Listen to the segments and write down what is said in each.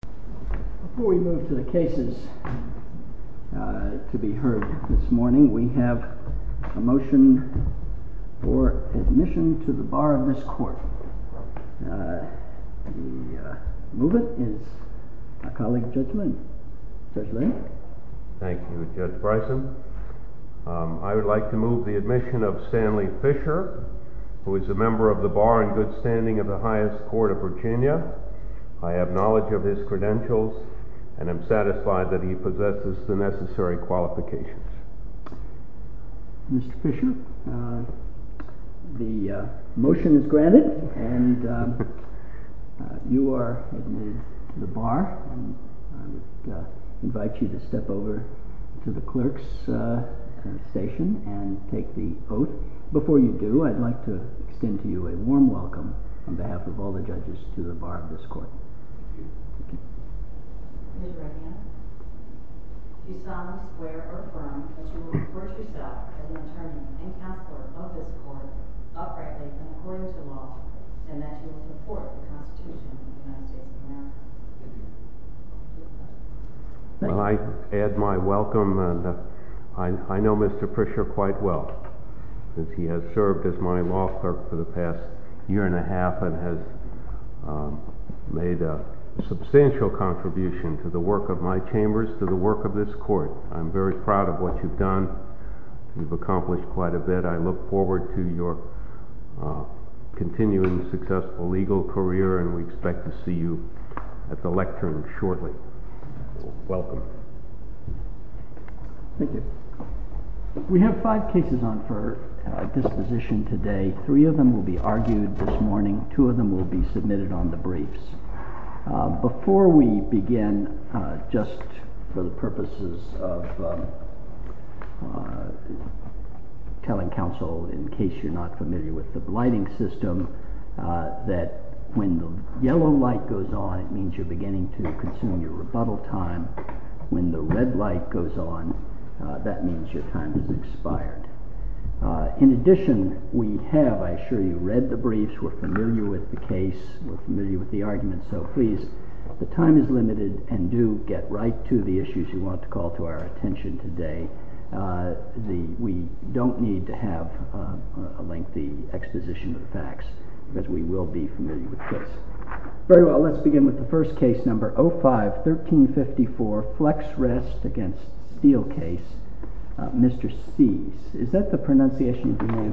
Before we move to the cases to be heard this morning, we have a motion for admission to the bar of this court. The movement is our colleague Judge Lynn. Judge Lynn. Thank you, Judge Bryson. I would like to move the admission of Stanley Fisher, who is a member of the Bar and Good Standing of the Highest Court of Virginia. I have knowledge of his credentials and am satisfied that he possesses the necessary qualifications. Mr. Fisher, the motion is granted and you are admitted to the bar. I would invite you to step over to the clerk's station and take the oath. Before you do, I would like to extend to you a warm welcome on behalf of all the judges to the bar of this court. Ms. Redman, do you solemnly swear or affirm that you will support yourself as an attorney and counselor above this court, uprightly and according to law, and that you will support the Constitution of the United States of America? Well, I add my welcome. I know Mr. Fisher quite well, since he has served as my law clerk for the past year and a half and has made a substantial contribution to the work of my chambers, to the work of this court. I'm very proud of what you've done. You've accomplished quite a bit. I look forward to your continuing successful legal career and we expect to see you at the lectern shortly. Welcome. Thank you. We have five cases on for disposition today. Three of them will be argued this morning. Two of them will be submitted on the briefs. Before we begin, just for the purposes of telling counsel, in case you're not familiar with the blighting system, that when the yellow light goes on, it means you're beginning to consume your rebuttal time. When the red light goes on, that means your time has expired. In addition, we have, I assure you, read the briefs. We're familiar with the case. We're familiar with the arguments. So please, the time is limited and do get right to the issues you want to call to our attention today. We don't need to have a lengthy exposition of the facts because we will be familiar with the case. Very well. Let's begin with the first case, number 05-1354, Flex Rest against Steele case. Mr. Sees. Is that the pronunciation of your name?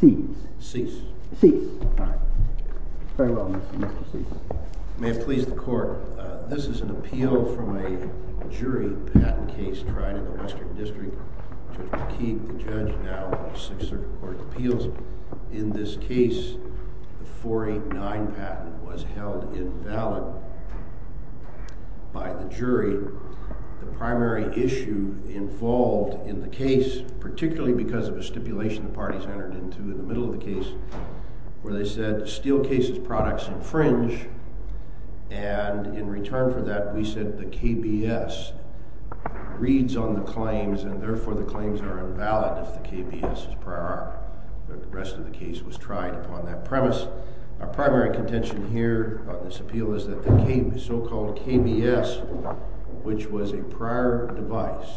Sees. Sees. Sees. All right. Very well, Mr. Sees. May it please the court, this is an appeal from a jury patent case tried in the Western District. Judge McKeith, the judge, now has six circuit court appeals. In this case, the 489 patent was held invalid by the jury. The primary issue involved in the case, particularly because of a stipulation the parties entered into in the middle of the case, where they said Steele case's products infringe, and in return for that we said the KBS reads on the claims and therefore the claims are invalid if the KBS is prior art. The rest of the case was tried upon that premise. Our primary contention here on this appeal is that the so-called KBS, which was a prior device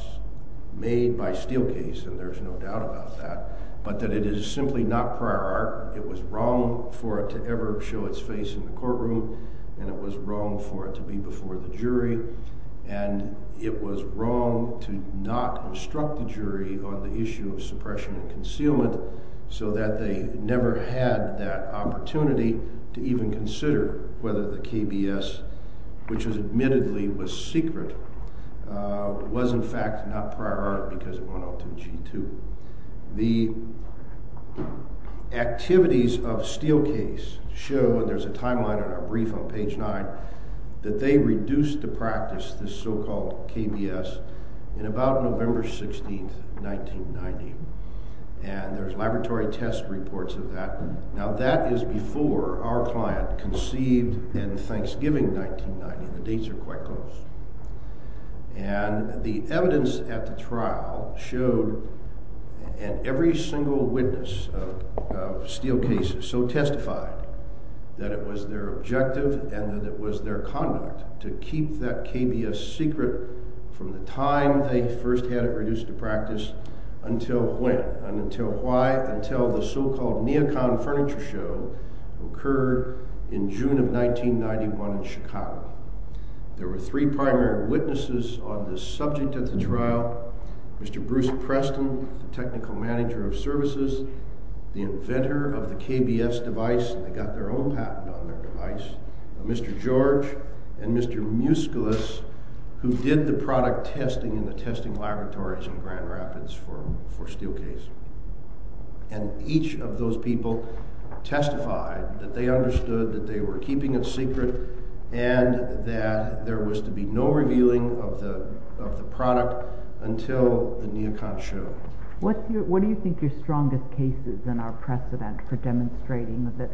made by Steele case, and there's no doubt about that, but that it is simply not prior art. It was wrong for it to ever show its face in the courtroom, and it was wrong for it to be before the jury, and it was wrong to not instruct the jury on the issue of suppression and concealment so that they never had that opportunity to even consider whether the KBS, which admittedly was secret, was in fact not prior art because it went off to G2. The activities of Steele case show, and there's a timeline in our brief on page 9, that they reduced the practice, this so-called KBS, in about November 16th, 1990, and there's laboratory test reports of that. Now that is before our client conceived in Thanksgiving 1990. The dates are quite close, and the evidence at the trial showed, and every single witness of Steele case so testified that it was their objective and that it was their conduct to keep that KBS secret from the time they first had it reduced to practice until when? Until why? Until the so-called Neocon Furniture Show occurred in June of 1991 in Chicago. There were three primary witnesses on this subject at the trial, Mr. Bruce Preston, the technical manager of services, the inventor of the KBS device, they got their own patent on their device, Mr. George, and Mr. Musculus, who did the product testing in the testing laboratories in Grand Rapids for Steele case. And each of those people testified that they understood that they were keeping it secret and that there was to be no revealing of the product until the Neocon show. What do you think your strongest case is in our precedent for demonstrating that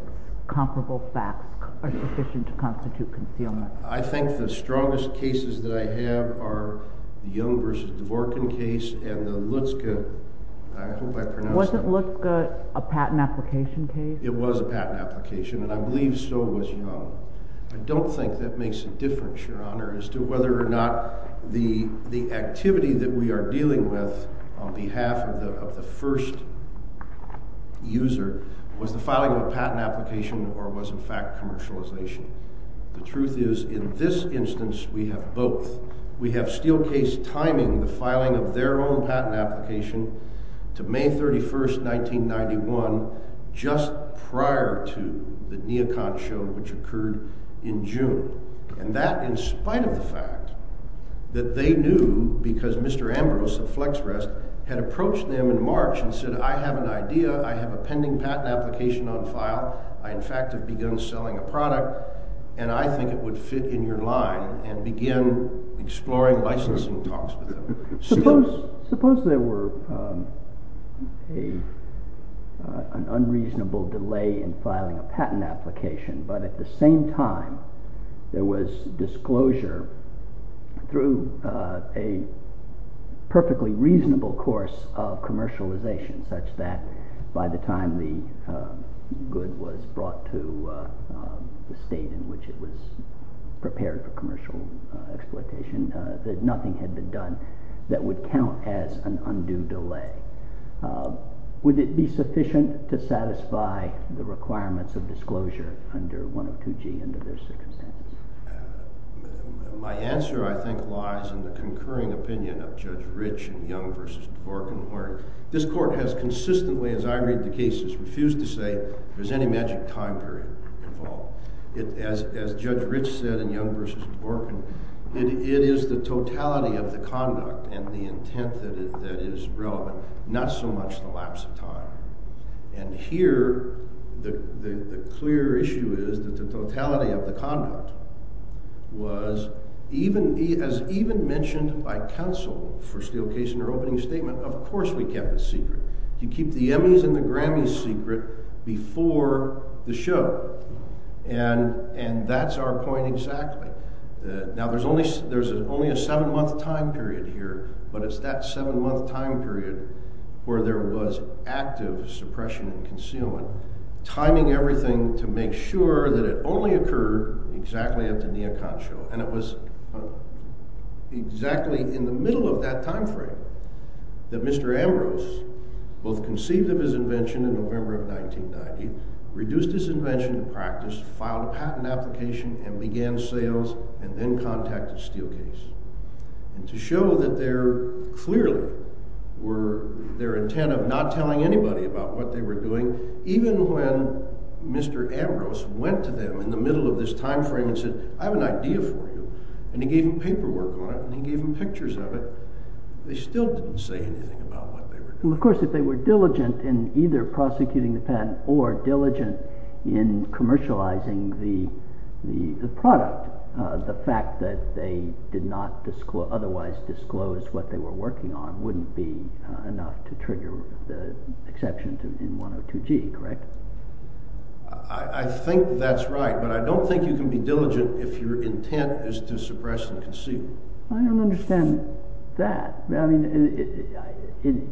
comparable facts are sufficient to constitute concealment? I think the strongest cases that I have are the Young v. Dvorkin case and the Lutzka. I hope I pronounced that right. Wasn't Lutzka a patent application case? It was a patent application, and I believe so was Young. I don't think that makes a difference, Your Honor, as to whether or not the activity that we are dealing with on behalf of the first user was the filing of a patent application or was in fact commercialization. The truth is in this instance we have both. We have Steele case timing the filing of their own patent application to May 31, 1991, just prior to the Neocon show, which occurred in June. And that in spite of the fact that they knew because Mr. Ambrose of FlexRest had approached them in March and said, I have an idea, I have a pending patent application on file, I in fact have begun selling a product, and I think it would fit in your line and begin exploring licensing talks with them. Suppose there were an unreasonable delay in filing a patent application, but at the same time there was disclosure through a perfectly reasonable course of commercialization such that by the time the good was brought to the state in which it was prepared for commercial exploitation that nothing had been done that would count as an undue delay. Would it be sufficient to satisfy the requirements of disclosure under 102G under those circumstances? My answer, I think, lies in the concurring opinion of Judge Rich and Young versus Dworkin. This court has consistently, as I read the cases, refused to say there's any magic time period involved. As Judge Rich said in Young versus Dworkin, it is the totality of the conduct and the intent that is relevant, not so much the lapse of time. And here the clear issue is that the totality of the conduct was, as even mentioned by counsel for Steele Case in their opening statement, of course we kept it secret. You keep the Emmys and the Grammys secret before the show. And that's our point exactly. Now there's only a seven-month time period here, but it's that seven-month time period where there was active suppression and concealment, timing everything to make sure that it only occurred exactly at the Neocon show. And it was exactly in the middle of that time frame that Mr. Ambrose, both conceived of his invention in November of 1990, reduced his invention to practice, filed a patent application, and began sales, and then contacted Steele Case. And to show that there clearly were their intent of not telling anybody about what they were doing, even when Mr. Ambrose went to them in the middle of this time frame and said, I have an idea for you, and he gave them paperwork on it, and he gave them pictures of it, they still didn't say anything about what they were doing. Well, of course, if they were diligent in either prosecuting the patent or diligent in commercializing the product, the fact that they did not otherwise disclose what they were working on wouldn't be enough to trigger the exception in 102G, correct? I think that's right, but I don't think you can be diligent if your intent is to suppress and conceal. I don't understand that.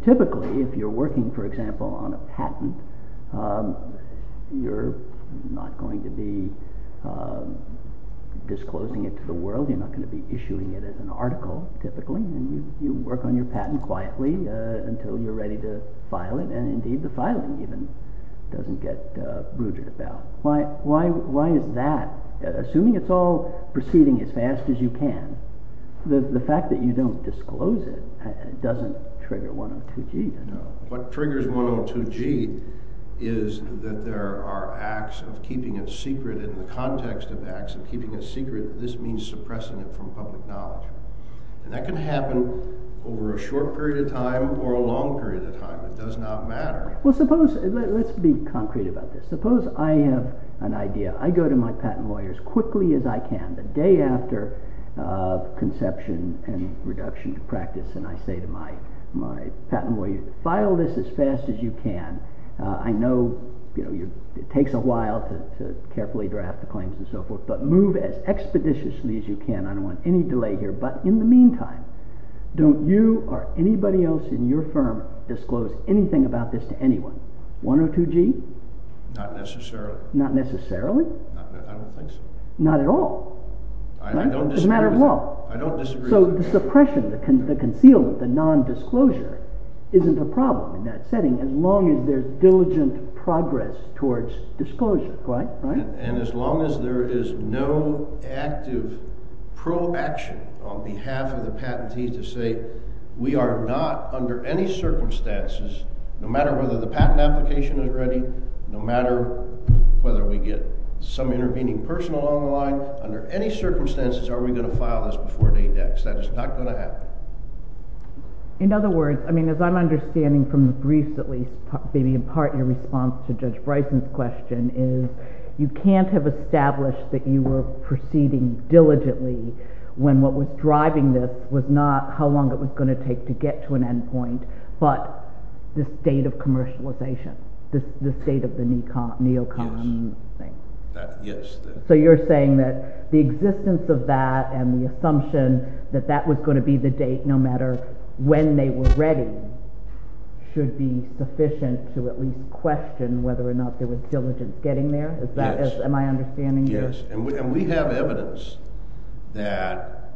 Typically, if you're working, for example, on a patent, you're not going to be disclosing it to the world, you're not going to be issuing it as an article, typically, and you work on your patent quietly until you're ready to file it, and indeed the filing even doesn't get brooded about. Why is that? Assuming it's all proceeding as fast as you can, the fact that you don't disclose it doesn't trigger 102G at all. What triggers 102G is that there are acts of keeping it secret in the context of acts of keeping it secret, this means suppressing it from public knowledge. And that can happen over a short period of time or a long period of time, it does not matter. Well, suppose, let's be concrete about this. Suppose I have an idea, I go to my patent lawyer as quickly as I can, the day after conception and reduction to practice, and I say to my patent lawyer, file this as fast as you can. I know it takes a while to carefully draft the claims and so forth, but move as expeditiously as you can, I don't want any delay here, but in the meantime, don't you or anybody else in your firm disclose anything about this to anyone? 102G? Not necessarily. Not necessarily? I don't think so. Not at all? I don't disagree with that. It's a matter of law. I don't disagree with that. So the suppression, the concealment, the non-disclosure isn't a problem in that setting as long as there's diligent progress towards disclosure, right? And as long as there is no active pro-action on behalf of the patentee to say, we are not under any circumstances, no matter whether the patent application is ready, no matter whether we get some intervening person along the line, under any circumstances are we going to file this before Dadex. That is not going to happen. In other words, I mean, as I'm understanding from the briefs at least, maybe in part in response to Judge Bryson's question, is you can't have established that you were proceeding diligently when what was driving this was not how long it was going to take to get to an end point, but the state of commercialization, the state of the neo-com thing. Yes. So you're saying that the existence of that and the assumption that that was going to be the date no matter when they were ready should be sufficient to at least question whether or not there was diligence getting there? Yes. Am I understanding this? Yes, and we have evidence that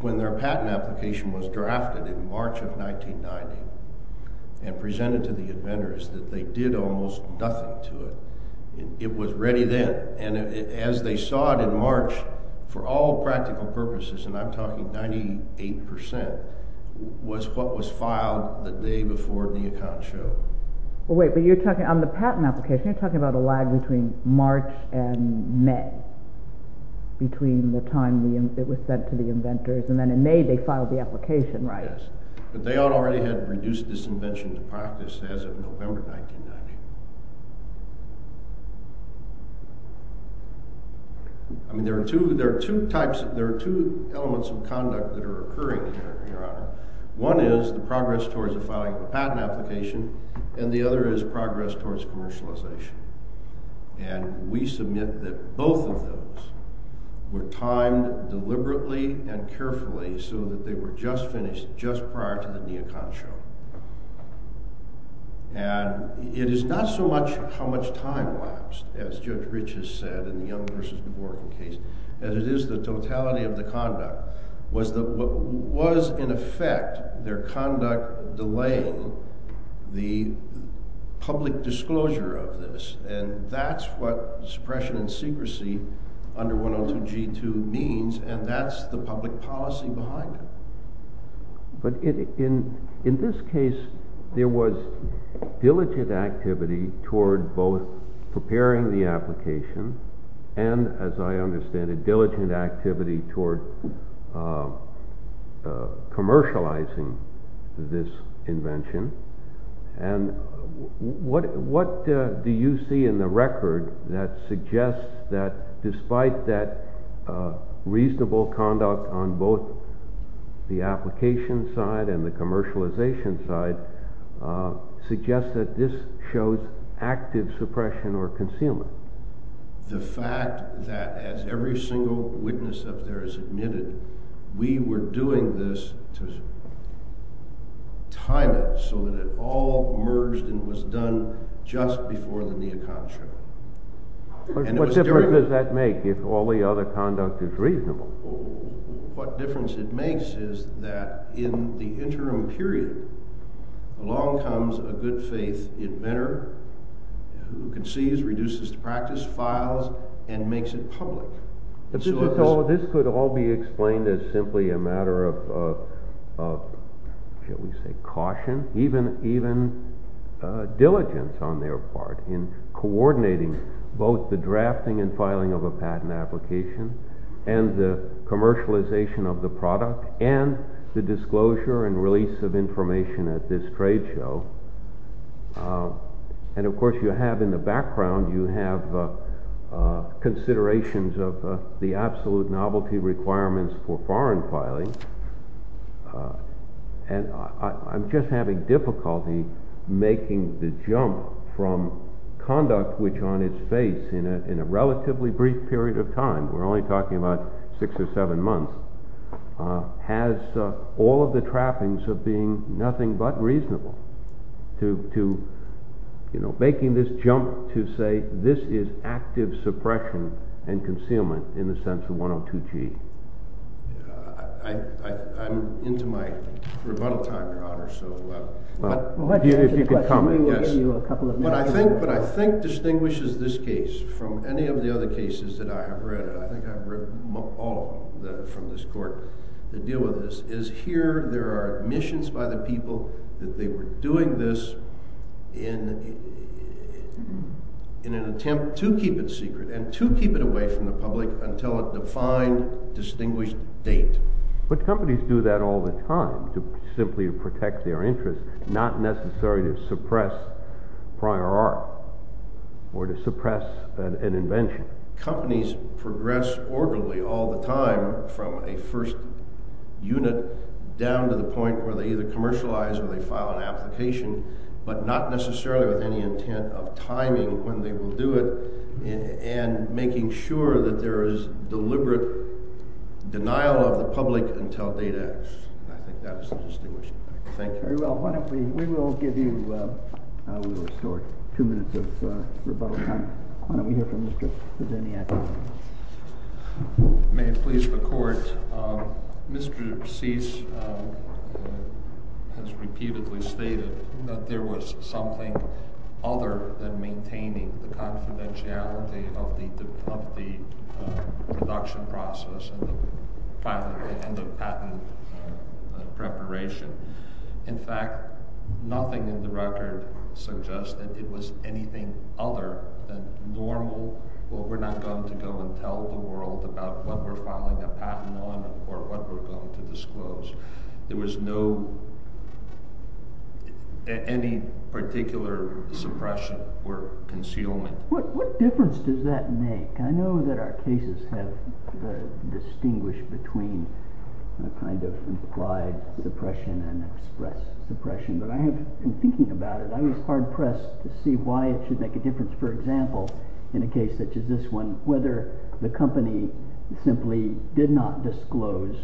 when their patent application was drafted in March of 1990 and presented to the inventors that they did almost nothing to it. It was ready then, and as they saw it in March, for all practical purposes, and I'm talking 98 percent, was what was filed the day before the account showed. Well, wait, but you're talking, on the patent application, you're talking about a lag between March and May, between the time it was sent to the inventors, and then in May they filed the application, right? Yes, but they already had reduced this invention to practice as of November 1990. I mean, there are two types, there are two elements of conduct that are occurring here, Your Honor. One is the progress towards the filing of a patent application, and the other is progress towards commercialization. And we submit that both of those were timed deliberately and carefully so that they were just finished just prior to the neo-con show. And it is not so much how much time lapsed, as Judge Rich has said in the Young v. Borken case, as it is the totality of the conduct, was in effect their conduct delaying the public disclosure of this, and that's what suppression and secrecy under 102G2 means, and that's the public policy behind it. But in this case, there was diligent activity toward both preparing the application, and, as I understand it, diligent activity toward commercializing this invention. And what do you see in the record that suggests that, despite that reasonable conduct on both the application side and the commercialization side, suggests that this shows active suppression or concealment? The fact that, as every single witness up there has admitted, we were doing this to time it so that it all merged and was done just before the neo-con show. What difference does that make if all the other conduct is reasonable? What difference it makes is that in the interim period, along comes a good-faith inventor who conceals, reduces to practice, files, and makes it public. This could all be explained as simply a matter of, shall we say, caution, even diligence on their part in coordinating both the drafting and filing of a patent application and the commercialization of the product and the disclosure and release of information at this trade show. And, of course, you have in the background, you have considerations of the absolute novelty requirements for foreign filing. And I'm just having difficulty making the jump from conduct which, on its face, in a relatively brief period of time—we're only talking about six or seven months— has all of the trappings of being nothing but reasonable to making this jump to say, this is active suppression and concealment in the sense of 102G. I'm into my rebuttal time, Your Honor. If you could comment, yes. But I think what distinguishes this case from any of the other cases that I have read, I think I've read all of them from this Court that deal with this, is here there are admissions by the people that they were doing this in an attempt to keep it secret and to keep it away from the public until a defined, distinguished date. But companies do that all the time simply to protect their interests, not necessarily to suppress prior art or to suppress an invention. Companies progress orderly all the time from a first unit down to the point where they either commercialize or they file an application, but not necessarily with any intent of timing when they will do it and making sure that there is deliberate denial of the public until a date acts. I think that was the distinguishing factor. Thank you. Very well. We will give you two minutes of rebuttal time. Why don't we hear from Mr. Zinniak. May it please the Court. Mr. Cease has repeatedly stated that there was something other than maintaining the confidentiality of the production process and the patent preparation. In fact, nothing in the record suggests that it was anything other than normal, well, we're not going to go and tell the world about what we're filing a patent on or what we're going to disclose. There was no, any particular suppression or concealment. What difference does that make? I know that our cases have distinguished between a kind of implied suppression and express suppression, but I have been thinking about it. I was hard-pressed to see why it should make a difference, for example, in a case such as this one, whether the company simply did not disclose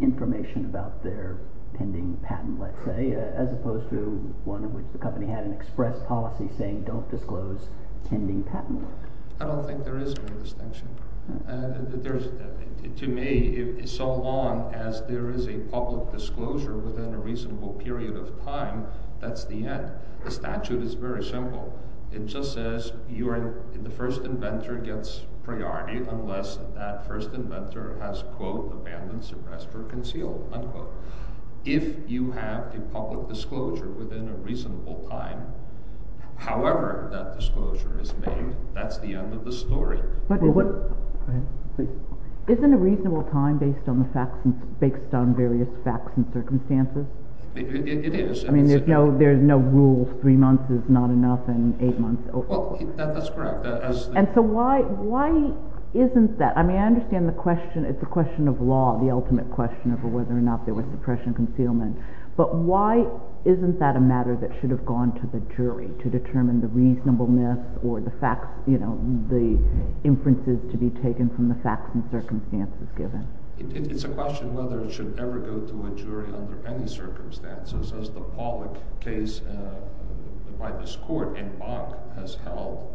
information about their pending patent, let's say, as opposed to one in which the company had an express policy saying don't disclose pending patent work. I don't think there is any distinction. To me, so long as there is a public disclosure within a reasonable period of time, that's the end. The statute is very simple. It just says the first inventor gets priority unless that first inventor has, quote, abandoned, suppressed, or concealed, unquote. If you have a public disclosure within a reasonable time, however that disclosure is made, that's the end of the story. Isn't a reasonable time based on various facts and circumstances? It is. I mean, there's no rule three months is not enough and eight months over. That's correct. And so why isn't that? I mean, I understand the question. It's a question of law, the ultimate question of whether or not there was suppression or concealment. But why isn't that a matter that should have gone to the jury to determine the reasonableness or the facts, you know, the inferences to be taken from the facts and circumstances given? It's a question whether it should ever go to a jury under any circumstances. As the Pollack case by this court in Bonk has held,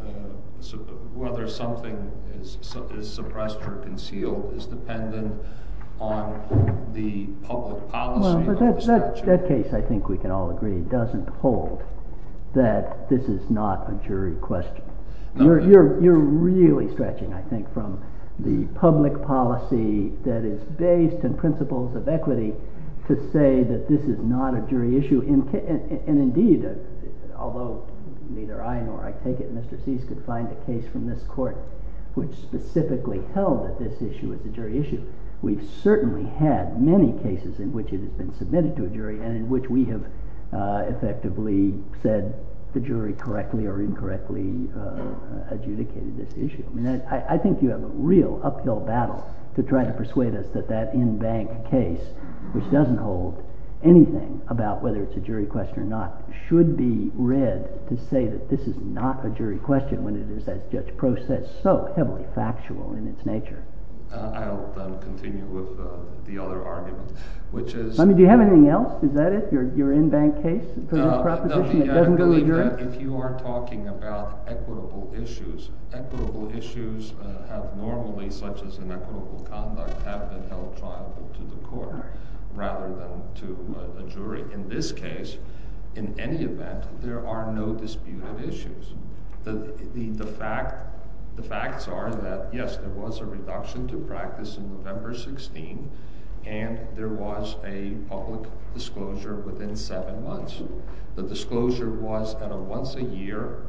whether something is suppressed or concealed is dependent on the public policy of the statute. That case, I think we can all agree, doesn't hold that this is not a jury question. You're really stretching, I think, from the public policy that is based on principles of equity to say that this is not a jury issue. And indeed, although neither I nor I take it Mr. Cease could find a case from this court which specifically held that this issue is a jury issue, we've certainly had many cases in which it has been submitted to a jury and in which we have effectively said the jury correctly or incorrectly adjudicated this issue. I think you have a real uphill battle to try to persuade us that that in-bank case, which doesn't hold anything about whether it's a jury question or not, should be read to say that this is not a jury question when it is, as Judge Prost said, so heavily factual in its nature. I'll continue with the other argument, which is— Do you have anything else? Is that it? Your in-bank case proposition that doesn't really do it? If you are talking about equitable issues, equitable issues have normally, such as in equitable conduct, have been held triable to the court rather than to a jury. In this case, in any event, there are no disputed issues. The facts are that, yes, there was a reduction to practice in November 16, and there was a public disclosure within seven months. The disclosure was at a once-a-year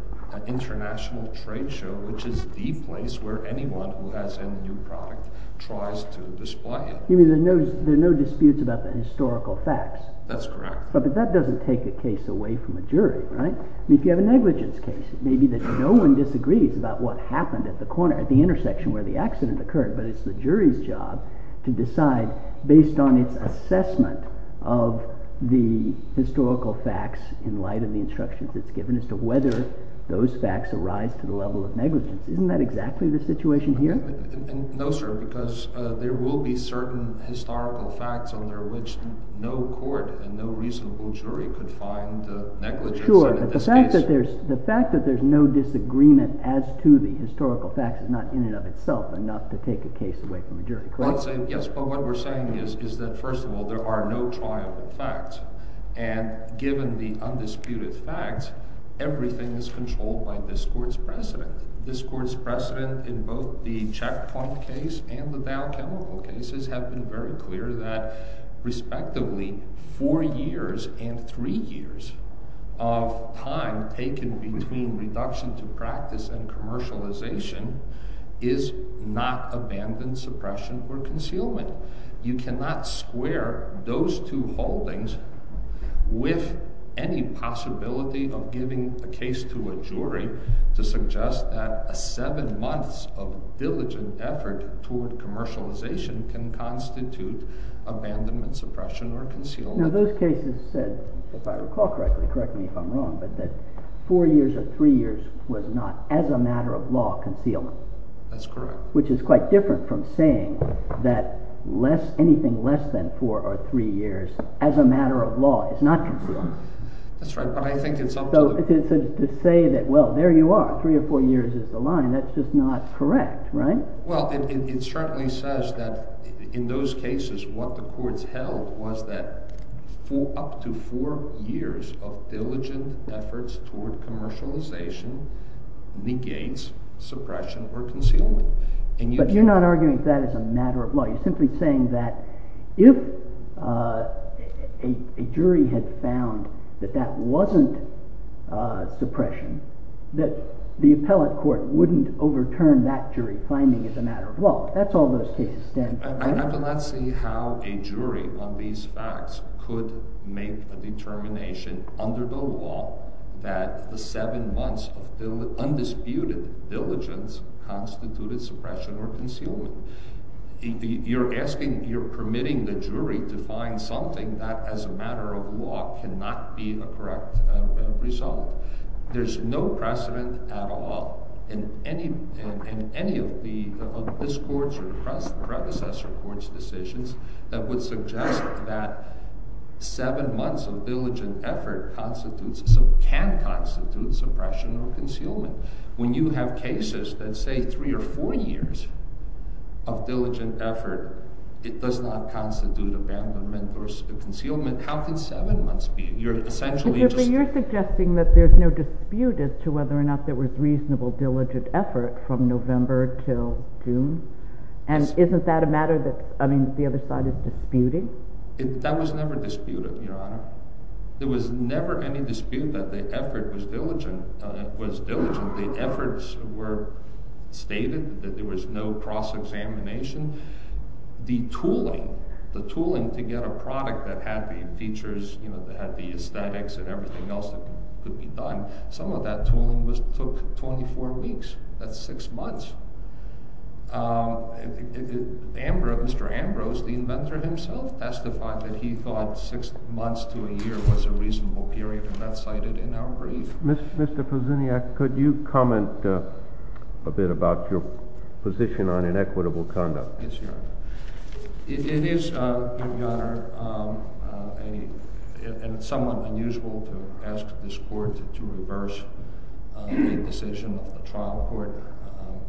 international trade show, which is the place where anyone who has any new product tries to display it. You mean there are no disputes about the historical facts? That's correct. But that doesn't take a case away from a jury, right? If you have a negligence case, it may be that no one disagrees about what happened at the intersection where the accident occurred, but it's the jury's job to decide, based on its assessment of the historical facts in light of the instructions it's given, as to whether those facts arise to the level of negligence. Isn't that exactly the situation here? No, sir, because there will be certain historical facts under which no court and no reasonable jury could find negligence in this case. Sure, but the fact that there's no disagreement as to the historical facts is not in and of itself enough to take a case away from a jury, correct? Yes, but what we're saying is that, first of all, there are no triable facts. And given the undisputed facts, everything is controlled by this court's precedent. This court's precedent in both the Checkpoint case and the Dow Chemical cases have been very clear that, respectively, four years and three years of time taken between reduction to practice and commercialization is not abandoned suppression or concealment. You cannot square those two holdings with any possibility of giving a case to a jury to suggest that a seven months of diligent effort toward commercialization can constitute abandonment suppression or concealment. Now, those cases said, if I recall correctly, correct me if I'm wrong, but that four years or three years was not, as a matter of law, concealment. That's correct. Which is quite different from saying that anything less than four or three years, as a matter of law, is not concealment. That's right, but I think it's up to the jury. So to say that, well, there you are, three or four years is the line, that's just not correct, right? Well, it certainly says that, in those cases, what the courts held was that up to four years of diligent efforts toward commercialization negates suppression or concealment. But you're not arguing that as a matter of law. You're simply saying that if a jury had found that that wasn't suppression, that the appellate court wouldn't overturn that jury's finding as a matter of law. That's all those cases stand for. I would like to see how a jury on these facts could make a determination under the law that the seven months of undisputed diligence constituted suppression or concealment. You're asking, you're permitting the jury to find something that, as a matter of law, cannot be a correct result. There's no precedent at all in any of this court's or the predecessor court's decisions that would suggest that seven months of diligent effort can constitute suppression or concealment. When you have cases that say three or four years of diligent effort, it does not constitute abandonment or concealment. How can seven months be? But you're suggesting that there's no dispute as to whether or not there was reasonable diligent effort from November till June? And isn't that a matter that, I mean, the other side is disputing? That was never disputed, Your Honor. There was never any dispute that the effort was diligent. The efforts were stated, that there was no cross-examination. The tooling, the tooling to get a product that had the features, you know, that had the aesthetics and everything else that could be done, some of that tooling took 24 weeks. That's six months. Mr. Ambrose, the inventor himself, testified that he thought six months to a year was a reasonable period, and that's cited in our brief. Mr. Kozuniak, could you comment a bit about your position on inequitable conduct? Yes, Your Honor. It is, Your Honor, somewhat unusual to ask this court to reverse the decision of the trial court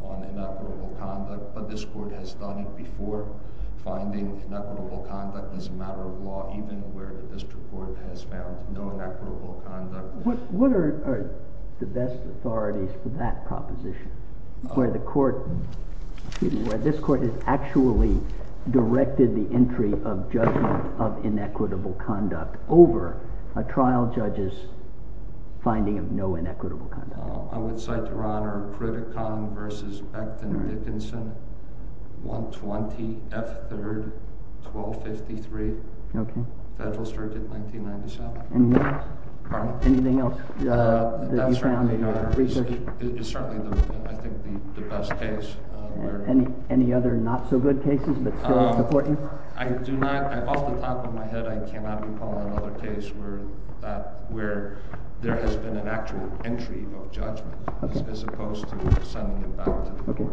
on inequitable conduct. But this court has done it before. Finding inequitable conduct is a matter of law, even where the district court has found no inequitable conduct. What are the best authorities for that proposition, where this court has actually directed the entry of judgment of inequitable conduct over a trial judge's finding of no inequitable conduct? I would cite, Your Honor, Pritikin v. Becton Dickinson, 120 F. 3rd, 1253, Federal Circuit, 1997. Anything else that you found in your research? That's right, Your Honor. It's certainly, I think, the best case. Any other not-so-good cases that still support you? Off the top of my head, I cannot recall another case where there has been an actual entry of judgment, as opposed to suddenly a battle to the court.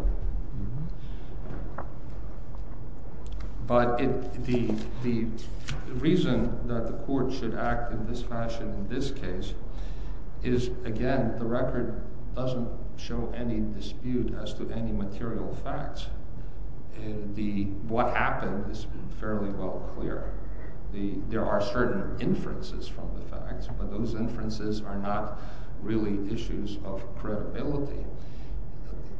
But the reason that the court should act in this fashion in this case is, again, the record doesn't show any dispute as to any material facts. What happened is fairly well clear. There are certain inferences from the facts, but those inferences are not really issues of credibility.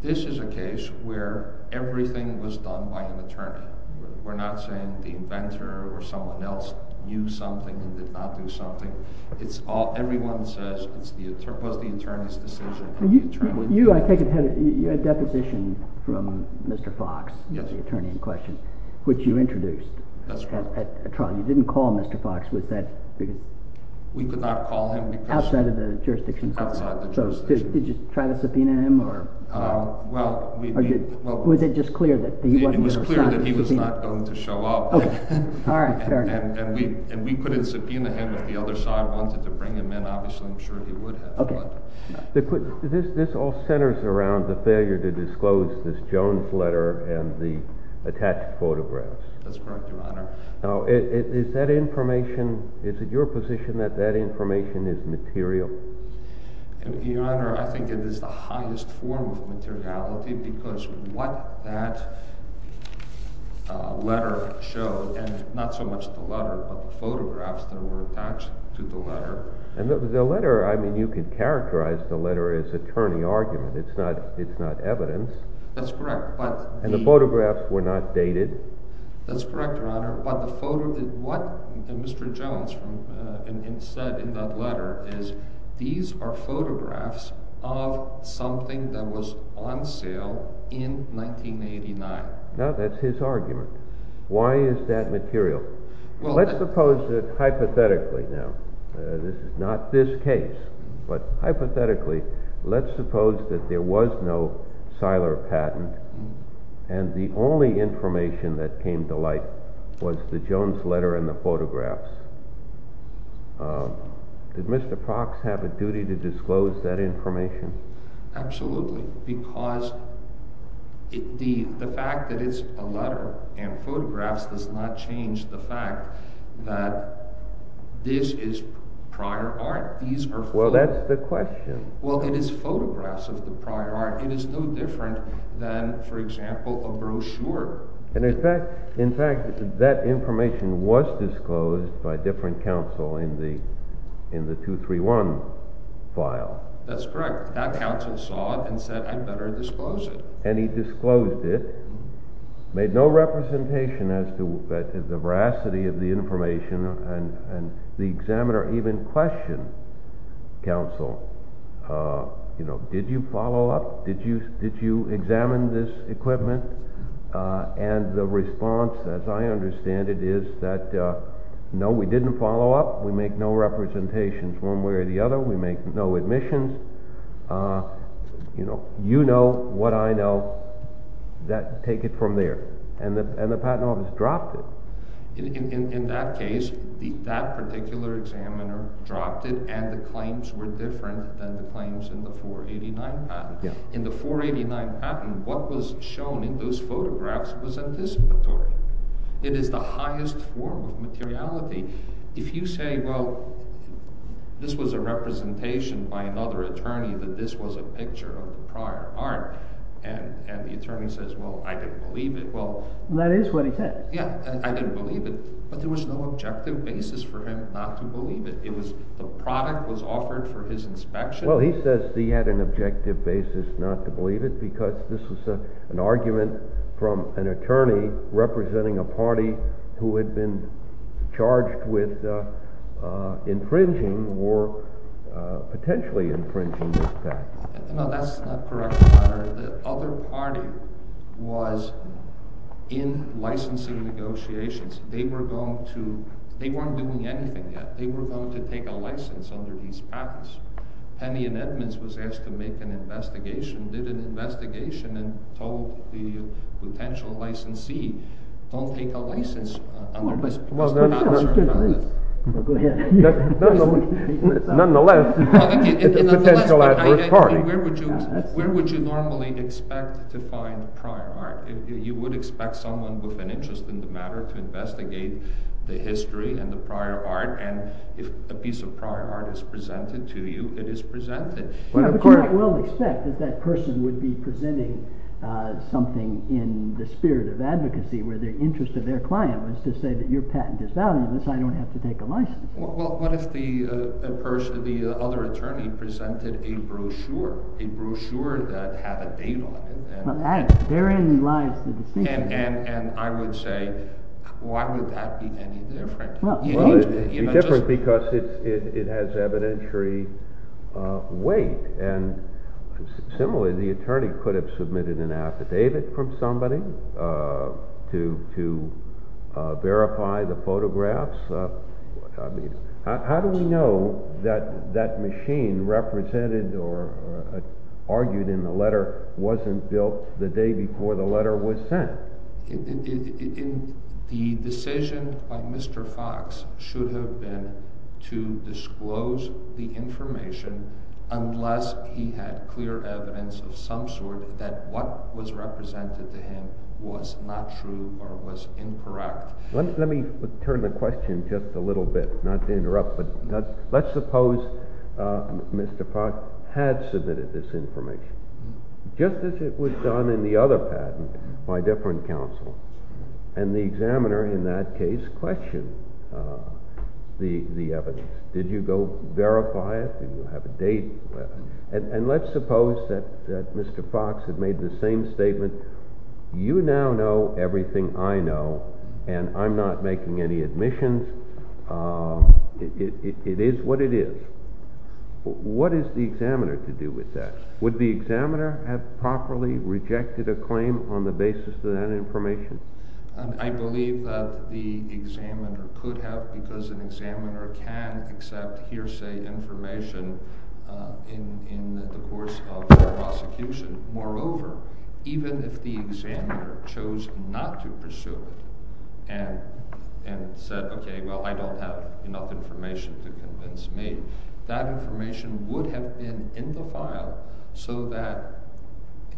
This is a case where everything was done by an attorney. We're not saying the inventor or someone else knew something and did not do something. Everyone says it was the attorney's decision. You, I take it, had a deposition from Mr. Fox, the attorney in question, which you introduced at trial. You didn't call Mr. Fox, was that because— We could not call him because— Outside of the jurisdiction. Outside the jurisdiction. Did you try to subpoena him? Well, we— Was it just clear that he wasn't going to sign the subpoena? It was clear that he was not going to show up. All right, fair enough. And we couldn't subpoena him if the other side wanted to bring him in. Obviously, I'm sure he would have, but— This all centers around the failure to disclose this Jones letter and the attached photographs. That's correct, Your Honor. Now, is that information—is it your position that that information is material? Your Honor, I think it is the highest form of materiality because what that letter showed, and not so much the letter but the photographs that were attached to the letter— And the letter, I mean, you could characterize the letter as attorney argument. It's not evidence. That's correct, but— And the photographs were not dated. That's correct, Your Honor. What the photo—what Mr. Jones said in that letter is these are photographs of something that was on sale in 1989. Now, that's his argument. Why is that material? Let's suppose that, hypothetically now—this is not this case—but hypothetically, let's suppose that there was no Seiler patent, and the only information that came to light was the Jones letter and the photographs. Did Mr. Prox have a duty to disclose that information? Absolutely, because the fact that it's a letter and photographs does not change the fact that this is prior art. Well, that's the question. Well, it is photographs of the prior art. It is no different than, for example, a brochure. In fact, that information was disclosed by different counsel in the 231 file. That's correct. That counsel saw it and said, I'd better disclose it. And he disclosed it, made no representation as to the veracity of the information, and the examiner even questioned counsel, you know, did you follow up? Did you examine this equipment? And the response, as I understand it, is that, no, we didn't follow up. We make no representations one way or the other. We make no admissions. You know what I know. Take it from there. And the patent office dropped it. In that case, that particular examiner dropped it, and the claims were different than the claims in the 489 patent. In the 489 patent, what was shown in those photographs was anticipatory. It is the highest form of materiality. If you say, well, this was a representation by another attorney that this was a picture of prior art, and the attorney says, well, I didn't believe it. That is what he said. Yeah, I didn't believe it. But there was no objective basis for him not to believe it. The product was offered for his inspection. Well, he says he had an objective basis not to believe it because this was an argument from an attorney representing a party who had been charged with infringing or potentially infringing this patent. No, that's not correct, Your Honor. The other party was in licensing negotiations. They were going to – they weren't doing anything yet. They were going to take a license under these patents. Penny and Edmonds was asked to make an investigation, did an investigation, and told the potential licensee, don't take a license under this patent. Nonetheless, it's a potential advert party. Where would you normally expect to find prior art? You would expect someone with an interest in the matter to investigate the history and the prior art, and if a piece of prior art is presented to you, it is presented. Yeah, but you might well expect that that person would be presenting something in the spirit of advocacy where the interest of their client was to say that your patent is valueless, I don't have to take a license. Well, what if the other attorney presented a brochure, a brochure that had a date on it? Therein lies the distinction. And I would say, why would that be any different? Well, it would be different because it has evidentiary weight, and similarly, the attorney could have submitted an affidavit from somebody to verify the photographs. How do we know that that machine represented or argued in the letter wasn't built the day before the letter was sent? The decision by Mr. Fox should have been to disclose the information unless he had clear evidence of some sort that what was represented to him was not true or was incorrect. Let me turn the question just a little bit, not to interrupt, but let's suppose Mr. Fox had submitted this information, just as it was done in the other patent by different counsel, and the examiner in that case questioned the evidence. Did you go verify it? Did you have a date? And let's suppose that Mr. Fox had made the same statement, you now know everything I know, and I'm not making any admissions. It is what it is. What is the examiner to do with that? Would the examiner have properly rejected a claim on the basis of that information? I believe that the examiner could have because an examiner can accept hearsay information in the course of a prosecution. Moreover, even if the examiner chose not to pursue it and said, okay, well, I don't have enough information to convince me, that information would have been in the file so that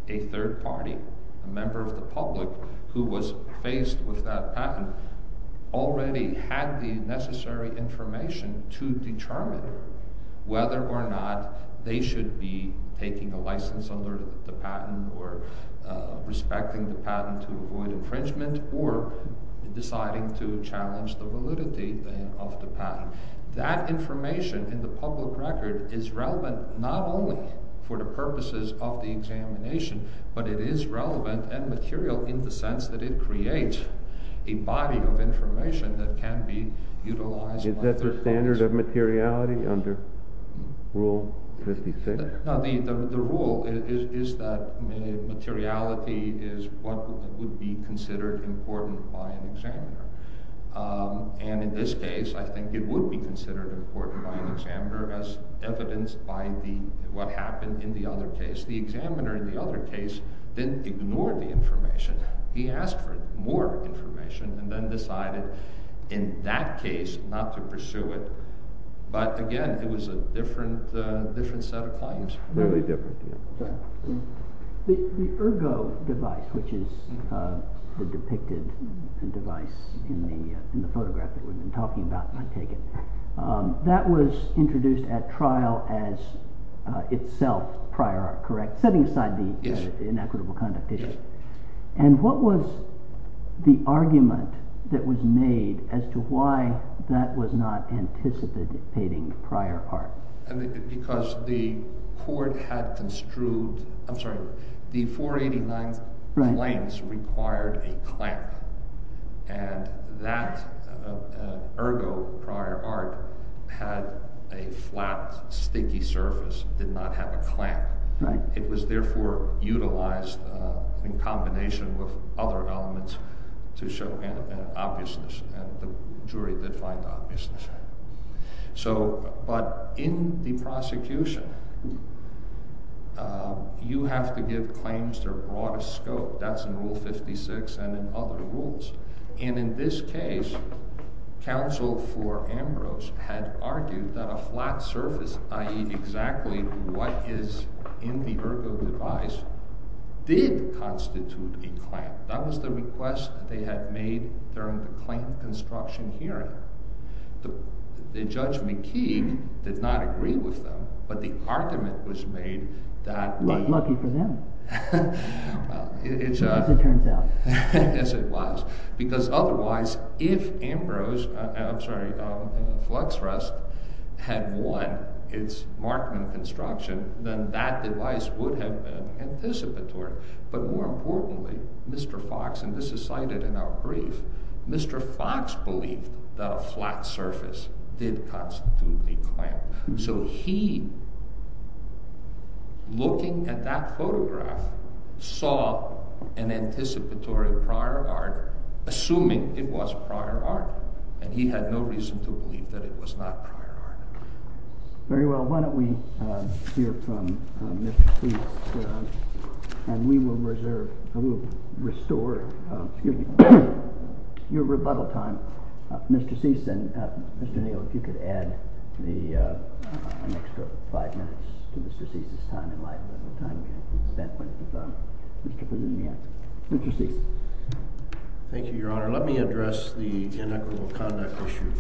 a third party, a member of the public who was faced with that patent, already had the necessary information to determine whether or not they should be taking a license under the patent or respecting the patent to avoid infringement or deciding to challenge the validity of the patent. That information in the public record is relevant not only for the purposes of the examination, but it is relevant and material in the sense that it creates a body of information that can be utilized. Is that the standard of materiality under Rule 56? The rule is that materiality is what would be considered important by an examiner. And in this case, I think it would be considered important by an examiner as evidenced by what happened in the other case. The examiner in the other case didn't ignore the information. He asked for more information and then decided in that case not to pursue it. But again, it was a different set of claims. Really different. The ergo device, which is the depicted device in the photograph that we've been talking about, I take it, that was introduced at trial as itself prior art, correct? Setting aside the inequitable conduct issue. And what was the argument that was made as to why that was not anticipating prior art? Because the court had construed, I'm sorry, the 489 claims required a clamp. And that ergo prior art had a flat, sticky surface, did not have a clamp. It was therefore utilized in combination with other elements to show obviousness. And the jury did find obviousness. So, but in the prosecution, you have to give claims their broadest scope. That's in Rule 56 and in other rules. And in this case, counsel for Ambrose had argued that a flat surface, i.e. exactly what is in the ergo device, did constitute a clamp. That was the request they had made during the claim construction hearing. The Judge McKee did not agree with them, but the argument was made that… Lucky for them. As it turns out. As it was. Because otherwise, if Ambrose, I'm sorry, Fluxrust had won its Markman construction, then that device would have been anticipatory. But more importantly, Mr. Fox, and this is cited in our brief, Mr. Fox believed that a flat surface did constitute a clamp. So he, looking at that photograph, saw an anticipatory prior art, assuming it was prior art. And he had no reason to believe that it was not prior art. Very well. Why don't we hear from Mr. Cease, and we will reserve, I will restore, your rebuttal time. Mr. Cease, then, Mr. Neal, if you could add an extra five minutes to Mr. Cease's time. Mr. Cease. Thank you, Your Honor. Let me address the inequitable conduct issue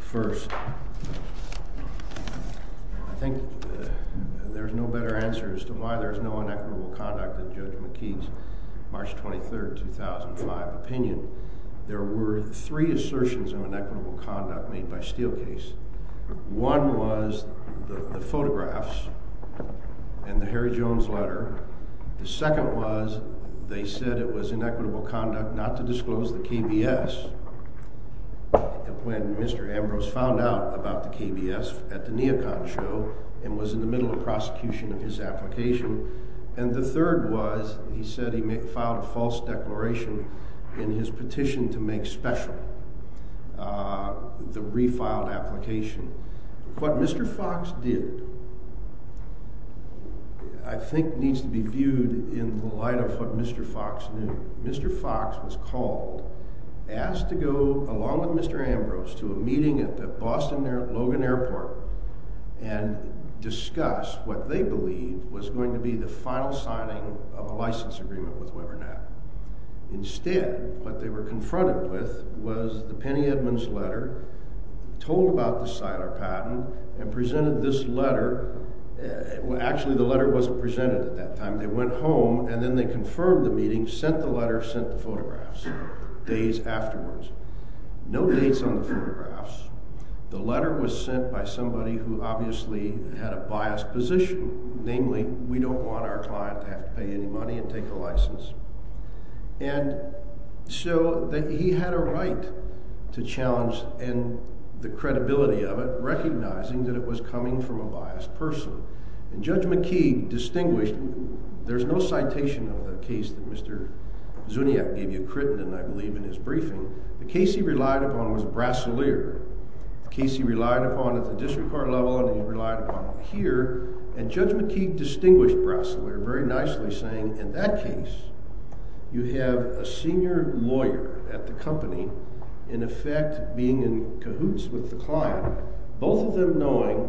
first. I think there is no better answer as to why there is no inequitable conduct in Judge McKee's March 23, 2005, opinion. There were three assertions of inequitable conduct made by Steelcase. One was the photographs and the Harry Jones letter. The second was they said it was inequitable conduct not to disclose the KBS when Mr. Ambrose found out about the KBS at the Neocon show and was in the middle of prosecution of his application. And the third was he said he filed a false declaration in his petition to make special the refiled application. What Mr. Fox did, I think, needs to be viewed in the light of what Mr. Fox did. Mr. Fox was called, asked to go along with Mr. Ambrose to a meeting at the Boston Logan Airport and discuss what they believed was going to be the final signing of a license agreement with Webernet. Instead, what they were confronted with was the Penny Edmonds letter, told about the Siler patent, and presented this letter. Actually, the letter wasn't presented at that time. They went home and then they confirmed the meeting, sent the letter, sent the photographs days afterwards. No dates on the photographs. The letter was sent by somebody who obviously had a biased position, namely we don't want our client to have to pay any money and take a license. And so he had a right to challenge the credibility of it, recognizing that it was coming from a biased person. And Judge McKeague distinguished, there's no citation of the case that Mr. Zuniak gave you, Crittenden, I believe, in his briefing. The case he relied upon was Brasileir. The case he relied upon at the district court level and he relied upon here. And Judge McKeague distinguished Brasileir very nicely saying, in that case, you have a senior lawyer at the company, in effect, being in cahoots with the client, both of them knowing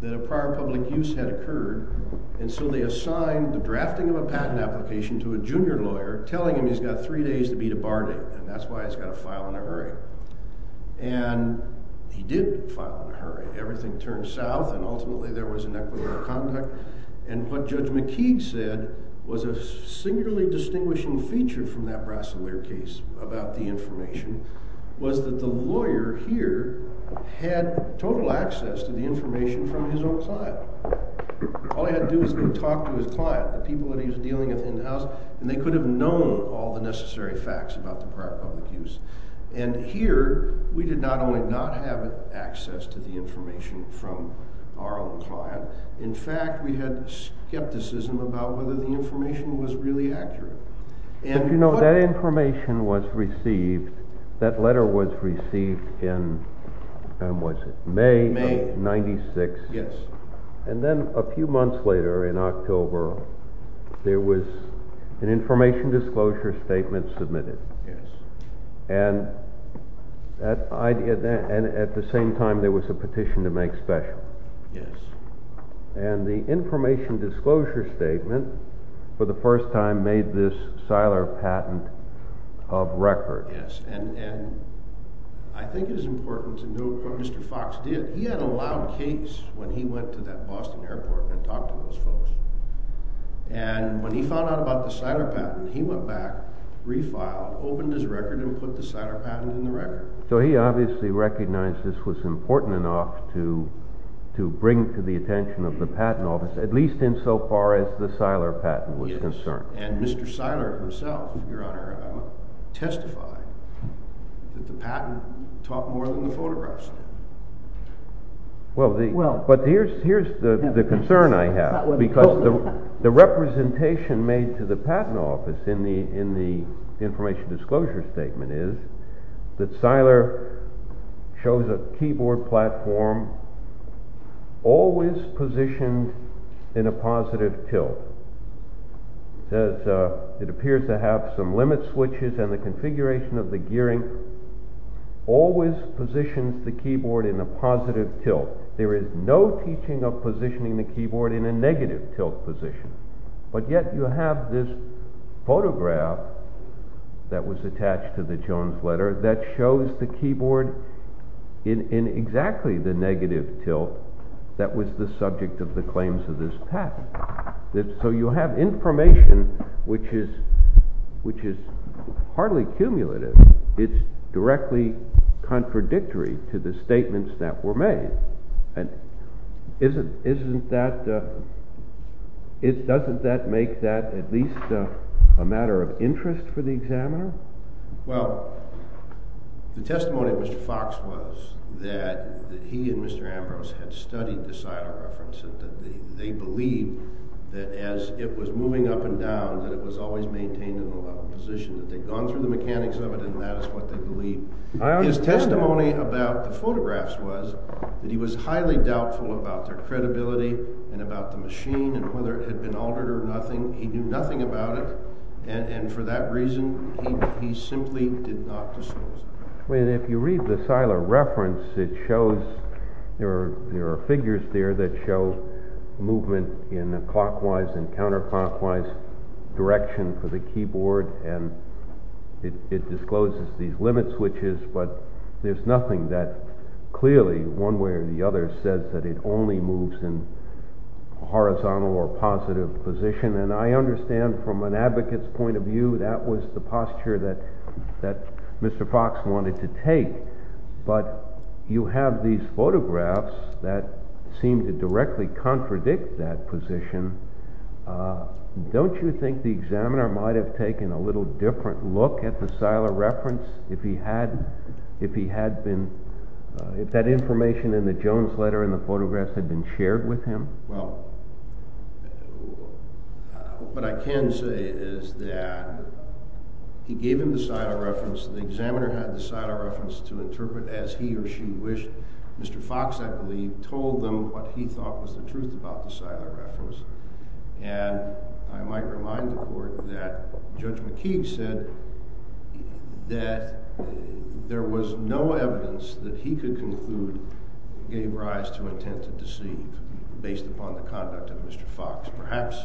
that a prior public use had occurred, and so they assigned the drafting of a patent application to a junior lawyer, telling him he's got three days to beat a bar date, and that's why he's got to file in a hurry. Everything turned south and ultimately there was inequitable conduct. And what Judge McKeague said was a singularly distinguishing feature from that Brasileir case about the information was that the lawyer here had total access to the information from his own client. All he had to do was to talk to his client, the people that he was dealing with in the house, and they could have known all the necessary facts about the prior public use. And here, we did not only not have access to the information from our own client, in fact, we had skepticism about whether the information was really accurate. You know, that information was received, that letter was received in, when was it, May of 96? Yes. And then a few months later, in October, there was an information disclosure statement submitted. Yes. And at the same time, there was a petition to make special. Yes. And the information disclosure statement, for the first time, made this Seiler patent of record. Yes, and I think it's important to note what Mr. Fox did. He had a loud case when he went to that Boston airport and talked to those folks. And when he found out about the Seiler patent, he went back, refiled, opened his record, and put the Seiler patent in the record. So he obviously recognized this was important enough to bring to the attention of the Patent Office, at least insofar as the Seiler patent was concerned. Yes, and Mr. Seiler himself, Your Honor, testified that the patent taught more than the photographs did. Well, but here's the concern I have, because the representation made to the Patent Office in the information disclosure statement is that Seiler shows a keyboard platform always positioned in a positive tilt. It appears to have some limit switches, and the configuration of the gearing always positions the keyboard in a positive tilt. There is no teaching of positioning the keyboard in a negative tilt position, but yet you have this photograph that was attached to the Jones letter that shows the keyboard in exactly the negative tilt that was the subject of the claims of this patent. So you have information which is hardly cumulative. It's directly contradictory to the statements that were made. And doesn't that make that at least a matter of interest for the examiner? Well, the testimony of Mr. Fox was that he and Mr. Ambrose had studied the Seiler reference, and that they believed that as it was moving up and down, that it was always maintained in the level position. That they'd gone through the mechanics of it, and that is what they believed. His testimony about the photographs was that he was highly doubtful about their credibility and about the machine and whether it had been altered or nothing. He knew nothing about it, and for that reason, he simply did not disclose it. If you read the Seiler reference, there are figures there that show movement in a clockwise and counterclockwise direction for the keyboard, and it discloses these limit switches. But there's nothing that clearly, one way or the other, says that it only moves in a horizontal or positive position. And I understand from an advocate's point of view, that was the posture that Mr. Fox wanted to take. But you have these photographs that seem to directly contradict that position. Don't you think the examiner might have taken a little different look at the Seiler reference if that information in the Jones letter and the photographs had been shared with him? Well, what I can say is that he gave him the Seiler reference. The examiner had the Seiler reference to interpret as he or she wished. Mr. Fox, I believe, told them what he thought was the truth about the Seiler reference. And I might remind the court that Judge McKee said that there was no evidence that he could conclude gave rise to intent to deceive based upon the conduct of Mr. Fox. Perhaps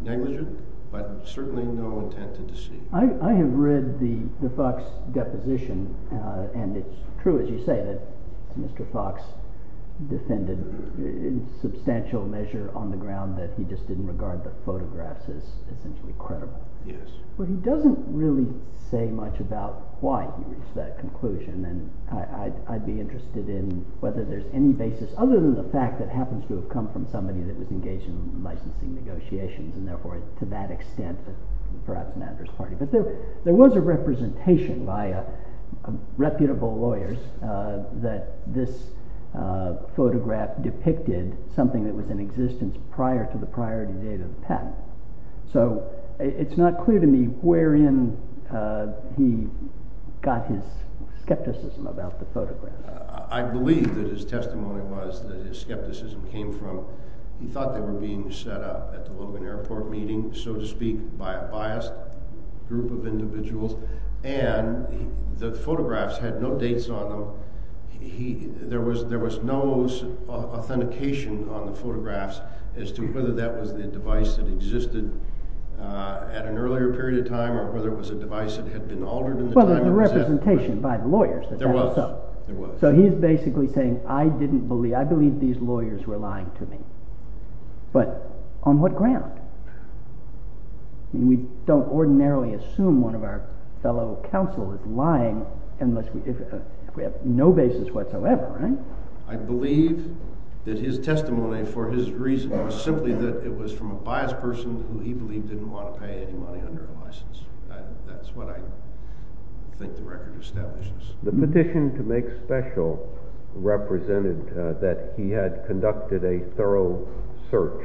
negligent, but certainly no intent to deceive. I have read the Fox deposition, and it's true, as you say, that Mr. Fox defended in substantial measure on the ground that he just didn't regard the photographs as credible. But he doesn't really say much about why he reached that conclusion. And I'd be interested in whether there's any basis, other than the fact that it happens to have come from somebody that was engaged in licensing negotiations. And therefore, to that extent, perhaps matters partly. But there was a representation by reputable lawyers that this photograph depicted something that was in existence prior to the priority date of the patent. So it's not clear to me wherein he got his skepticism about the photograph. I believe that his testimony was that his skepticism came from he thought they were being set up at the Logan Airport meeting, so to speak, by a biased group of individuals. And the photographs had no dates on them. There was no authentication on the photographs as to whether that was the device that existed at an earlier period of time or whether it was a device that had been altered in the time of his death. Well, there was a representation by the lawyers that that was so. There was. So he's basically saying, I believe these lawyers were lying to me. But on what ground? We don't ordinarily assume one of our fellow counsel is lying unless we have no basis whatsoever. I believe that his testimony for his reason was simply that it was from a biased person who he believed didn't want to pay any money under a license. That's what I think the record establishes. The petition to make special represented that he had conducted a thorough search.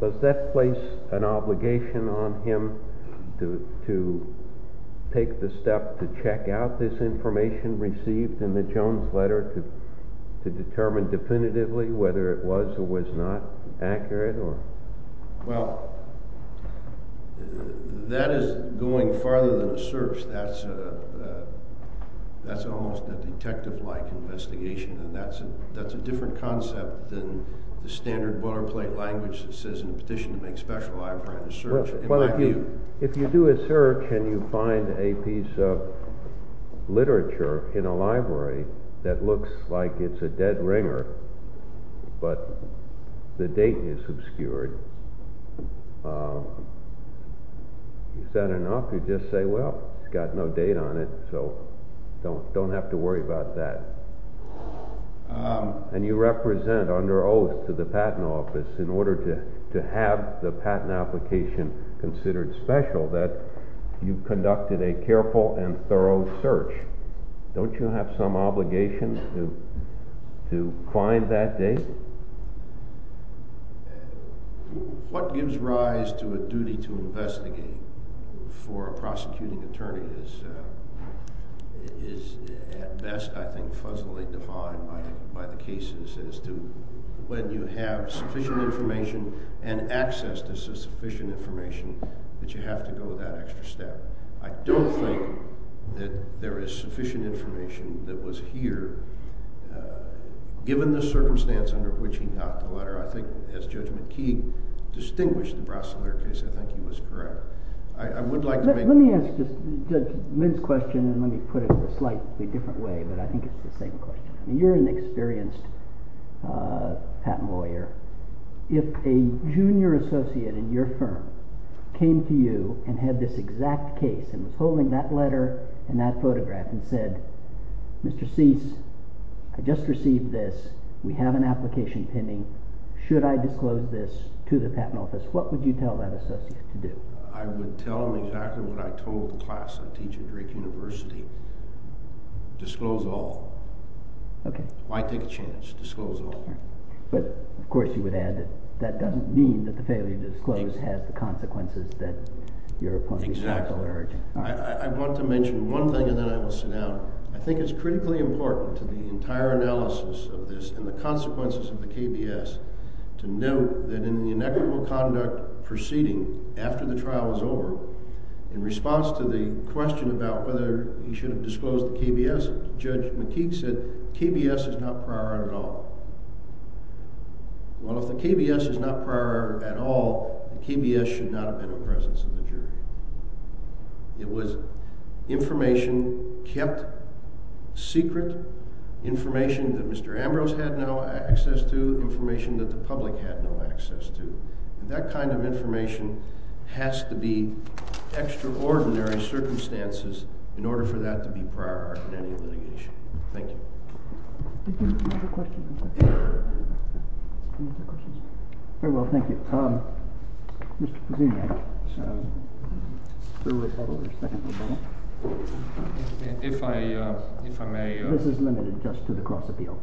Does that place an obligation on him to take the step to check out this information received in the Jones letter to determine definitively whether it was or was not accurate? Well, that is going farther than a search. That's that's almost a detective like investigation. And that's that's a different concept than the standard water plate language that says in a petition to make special. Well, if you if you do a search and you find a piece of literature in a library that looks like it's a dead ringer, but the date is obscured. Is that enough to just say, well, it's got no date on it, so don't don't have to worry about that. And you represent under oath to the patent office in order to to have the patent application considered special that you conducted a careful and thorough search. Don't you have some obligation to to find that date? What gives rise to a duty to investigate for a prosecuting attorney is is best, I think, fuzzily defined by the cases as to when you have sufficient information and access to sufficient information that you have to go that extra step. I don't think that there is sufficient information that was here given the circumstance under which he got the letter. I think as Judge McKee distinguished the Brasler case, I think he was correct. Let me ask this question and let me put it in a slightly different way. But I think it's the same question. You're an experienced patent lawyer. If a junior associate in your firm came to you and had this exact case and was holding that letter and that photograph and said, Mr. Seitz, I just received this. We have an application pending. Should I disclose this to the patent office? What would you tell that associate to do? I would tell him exactly what I told the class I teach at Drake University. Disclose all. OK. Why take a chance? Disclose all. But, of course, you would add that that doesn't mean that the failure to disclose has the consequences that you're pointing out. Exactly. I want to mention one thing and then I will sit down. I think it's critically important to the entire analysis of this and the consequences of the KBS to note that in the inequitable conduct proceeding after the trial is over, in response to the question about whether he should have disclosed the KBS, Judge McKee said KBS is not prior at all. Well, if the KBS is not prior at all, the KBS should not have been in presence of the jury. It was information kept secret, information that Mr. Ambrose had no access to, information that the public had no access to. And that kind of information has to be extraordinary circumstances in order for that to be prior to any litigation. Thank you. Very well. Thank you. Mr. Pazini. If I, if I may. This is limited just to the cross appeal.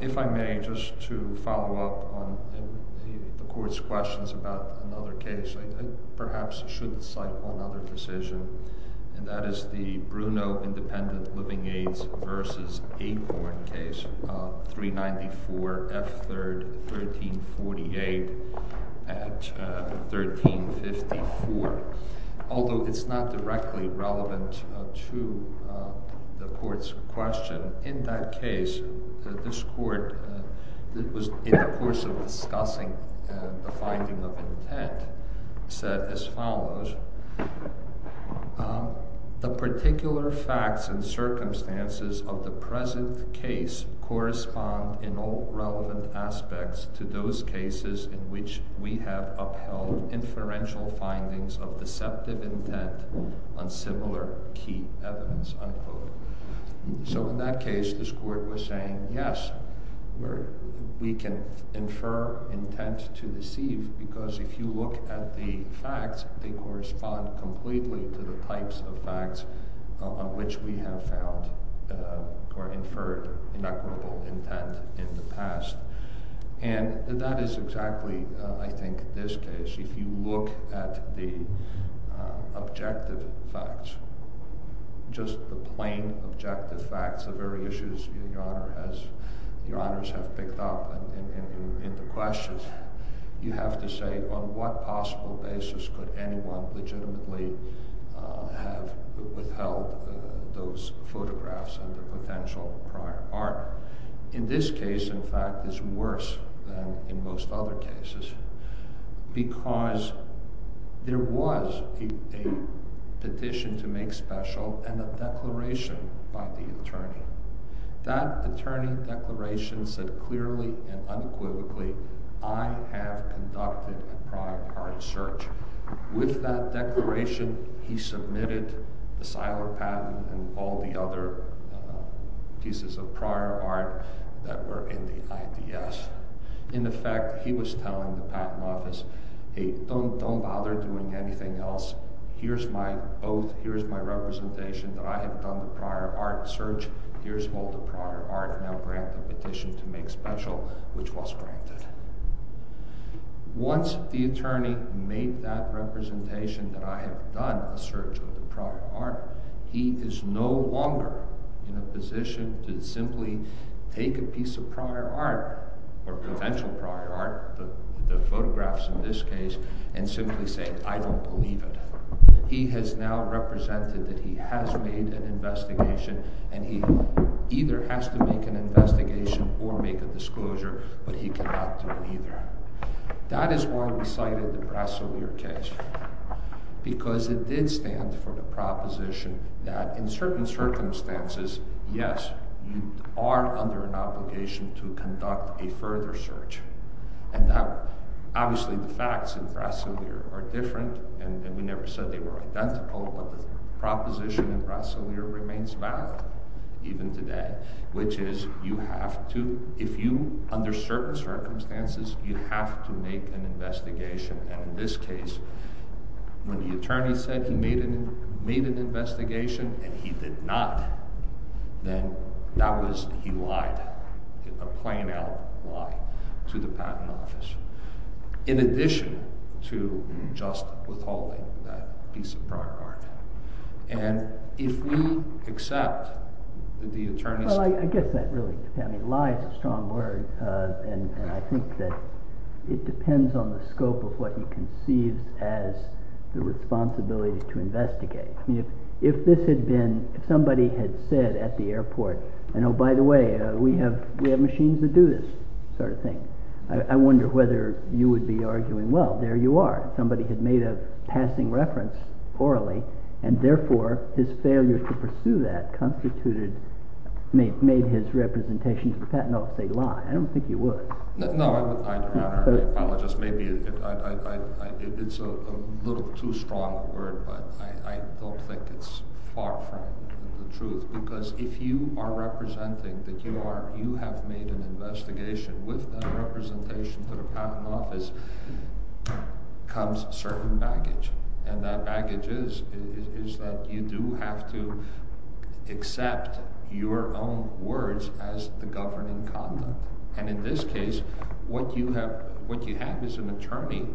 If I may, just to follow up on the court's questions about another case, I perhaps should cite another decision. And that is the Bruno Independent Living Aids versus Acorn case, 394 F. 3rd, 1348 at 1354. Although it's not directly relevant to the court's question, in that case, this court, that was in the course of discussing the finding of intent, said as follows. The particular facts and circumstances of the present case correspond in all relevant aspects to those cases in which we have upheld inferential findings of deceptive intent on similar key evidence, unquote. So in that case, this court was saying, yes, we can infer intent to deceive because if you look at the facts, they correspond completely to the types of facts on which we have found or inferred inequitable intent in the past. And that is exactly, I think, this case. If you look at the objective facts, just the plain objective facts, the very issues Your Honor has, Your Honors have picked up in the questions, you have to say on what possible basis could anyone legitimately have withheld those photographs under potential prior harm. In this case, in fact, it's worse than in most other cases because there was a petition to make special and a declaration by the attorney. That attorney declaration said clearly and unequivocally, I have conducted a prior art search. With that declaration, he submitted the Seiler patent and all the other pieces of prior art that were in the IDS. In effect, he was telling the patent office, hey, don't bother doing anything else. Here's my oath. Here's my representation that I have done the prior art search. Here's all the prior art. Now grant the petition to make special, which was granted. Once the attorney made that representation that I have done a search of the prior art, he is no longer in a position to simply take a piece of prior art or potential prior art, the photographs in this case, and simply say, I don't believe it. He has now represented that he has made an investigation and he either has to make an investigation or make a disclosure, but he cannot do either. That is why we cited the Brasovir case because it did stand for the proposition that in certain circumstances, yes, you are under an obligation to conduct a further search. Obviously, the facts in Brasovir are different and we never said they were identical, but the proposition in Brasovir remains valid even today, which is you have to, if you, under certain circumstances, you have to make an investigation. In this case, when the attorney said he made an investigation and he did not, then that was, he lied, a plain-out lie to the patent office, in addition to just withholding that piece of prior art. And if we accept that the attorney... Well, I guess that really is a lie is a strong word, and I think that it depends on the scope of what you conceived as the responsibility to investigate. If this had been, if somebody had said at the airport, and oh, by the way, we have machines that do this sort of thing, I wonder whether you would be arguing, well, there you are. Somebody had made a passing reference orally, and therefore his failure to pursue that constituted, made his representation to the patent office a lie. I don't think he would. No, maybe it's a little too strong a word, but I don't think it's far from the truth, because if you are representing that you are, you have made an investigation, with that representation to the patent office comes certain baggage. And that baggage is that you do have to accept your own words as the governing condom, and in this case, what you have is an attorney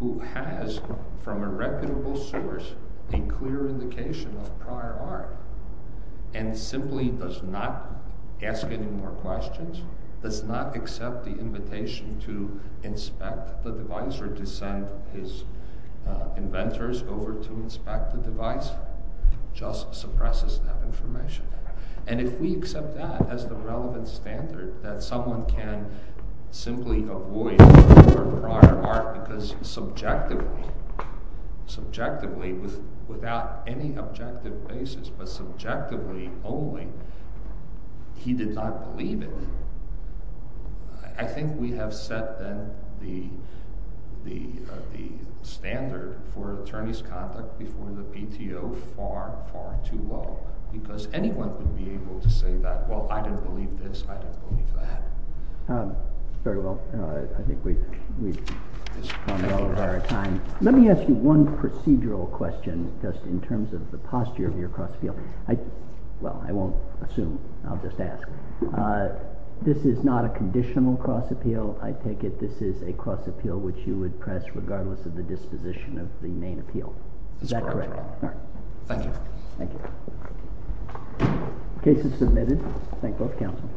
who has, from a reputable source, a clear indication of prior art, and simply does not ask any more questions, does not accept the invitation to inspect the device or to send his inventors over to inspect the device, just suppresses that information. And if we accept that as the relevant standard, that someone can simply avoid prior art because subjectively, subjectively, without any objective basis, but subjectively only, he did not believe it, I think we have set then the standard for attorney's conduct before the PTO far, far too low, because anyone could be able to say that, well, I didn't believe this, I didn't believe that. Very well, I think we've run well with our time. Let me ask you one procedural question, just in terms of the posture of your cross-appeal. Well, I won't assume, I'll just ask. This is not a conditional cross-appeal, I take it this is a cross-appeal which you would press regardless of the disposition of the main appeal. Is that correct? Thank you. Case is submitted. Thank both counsels.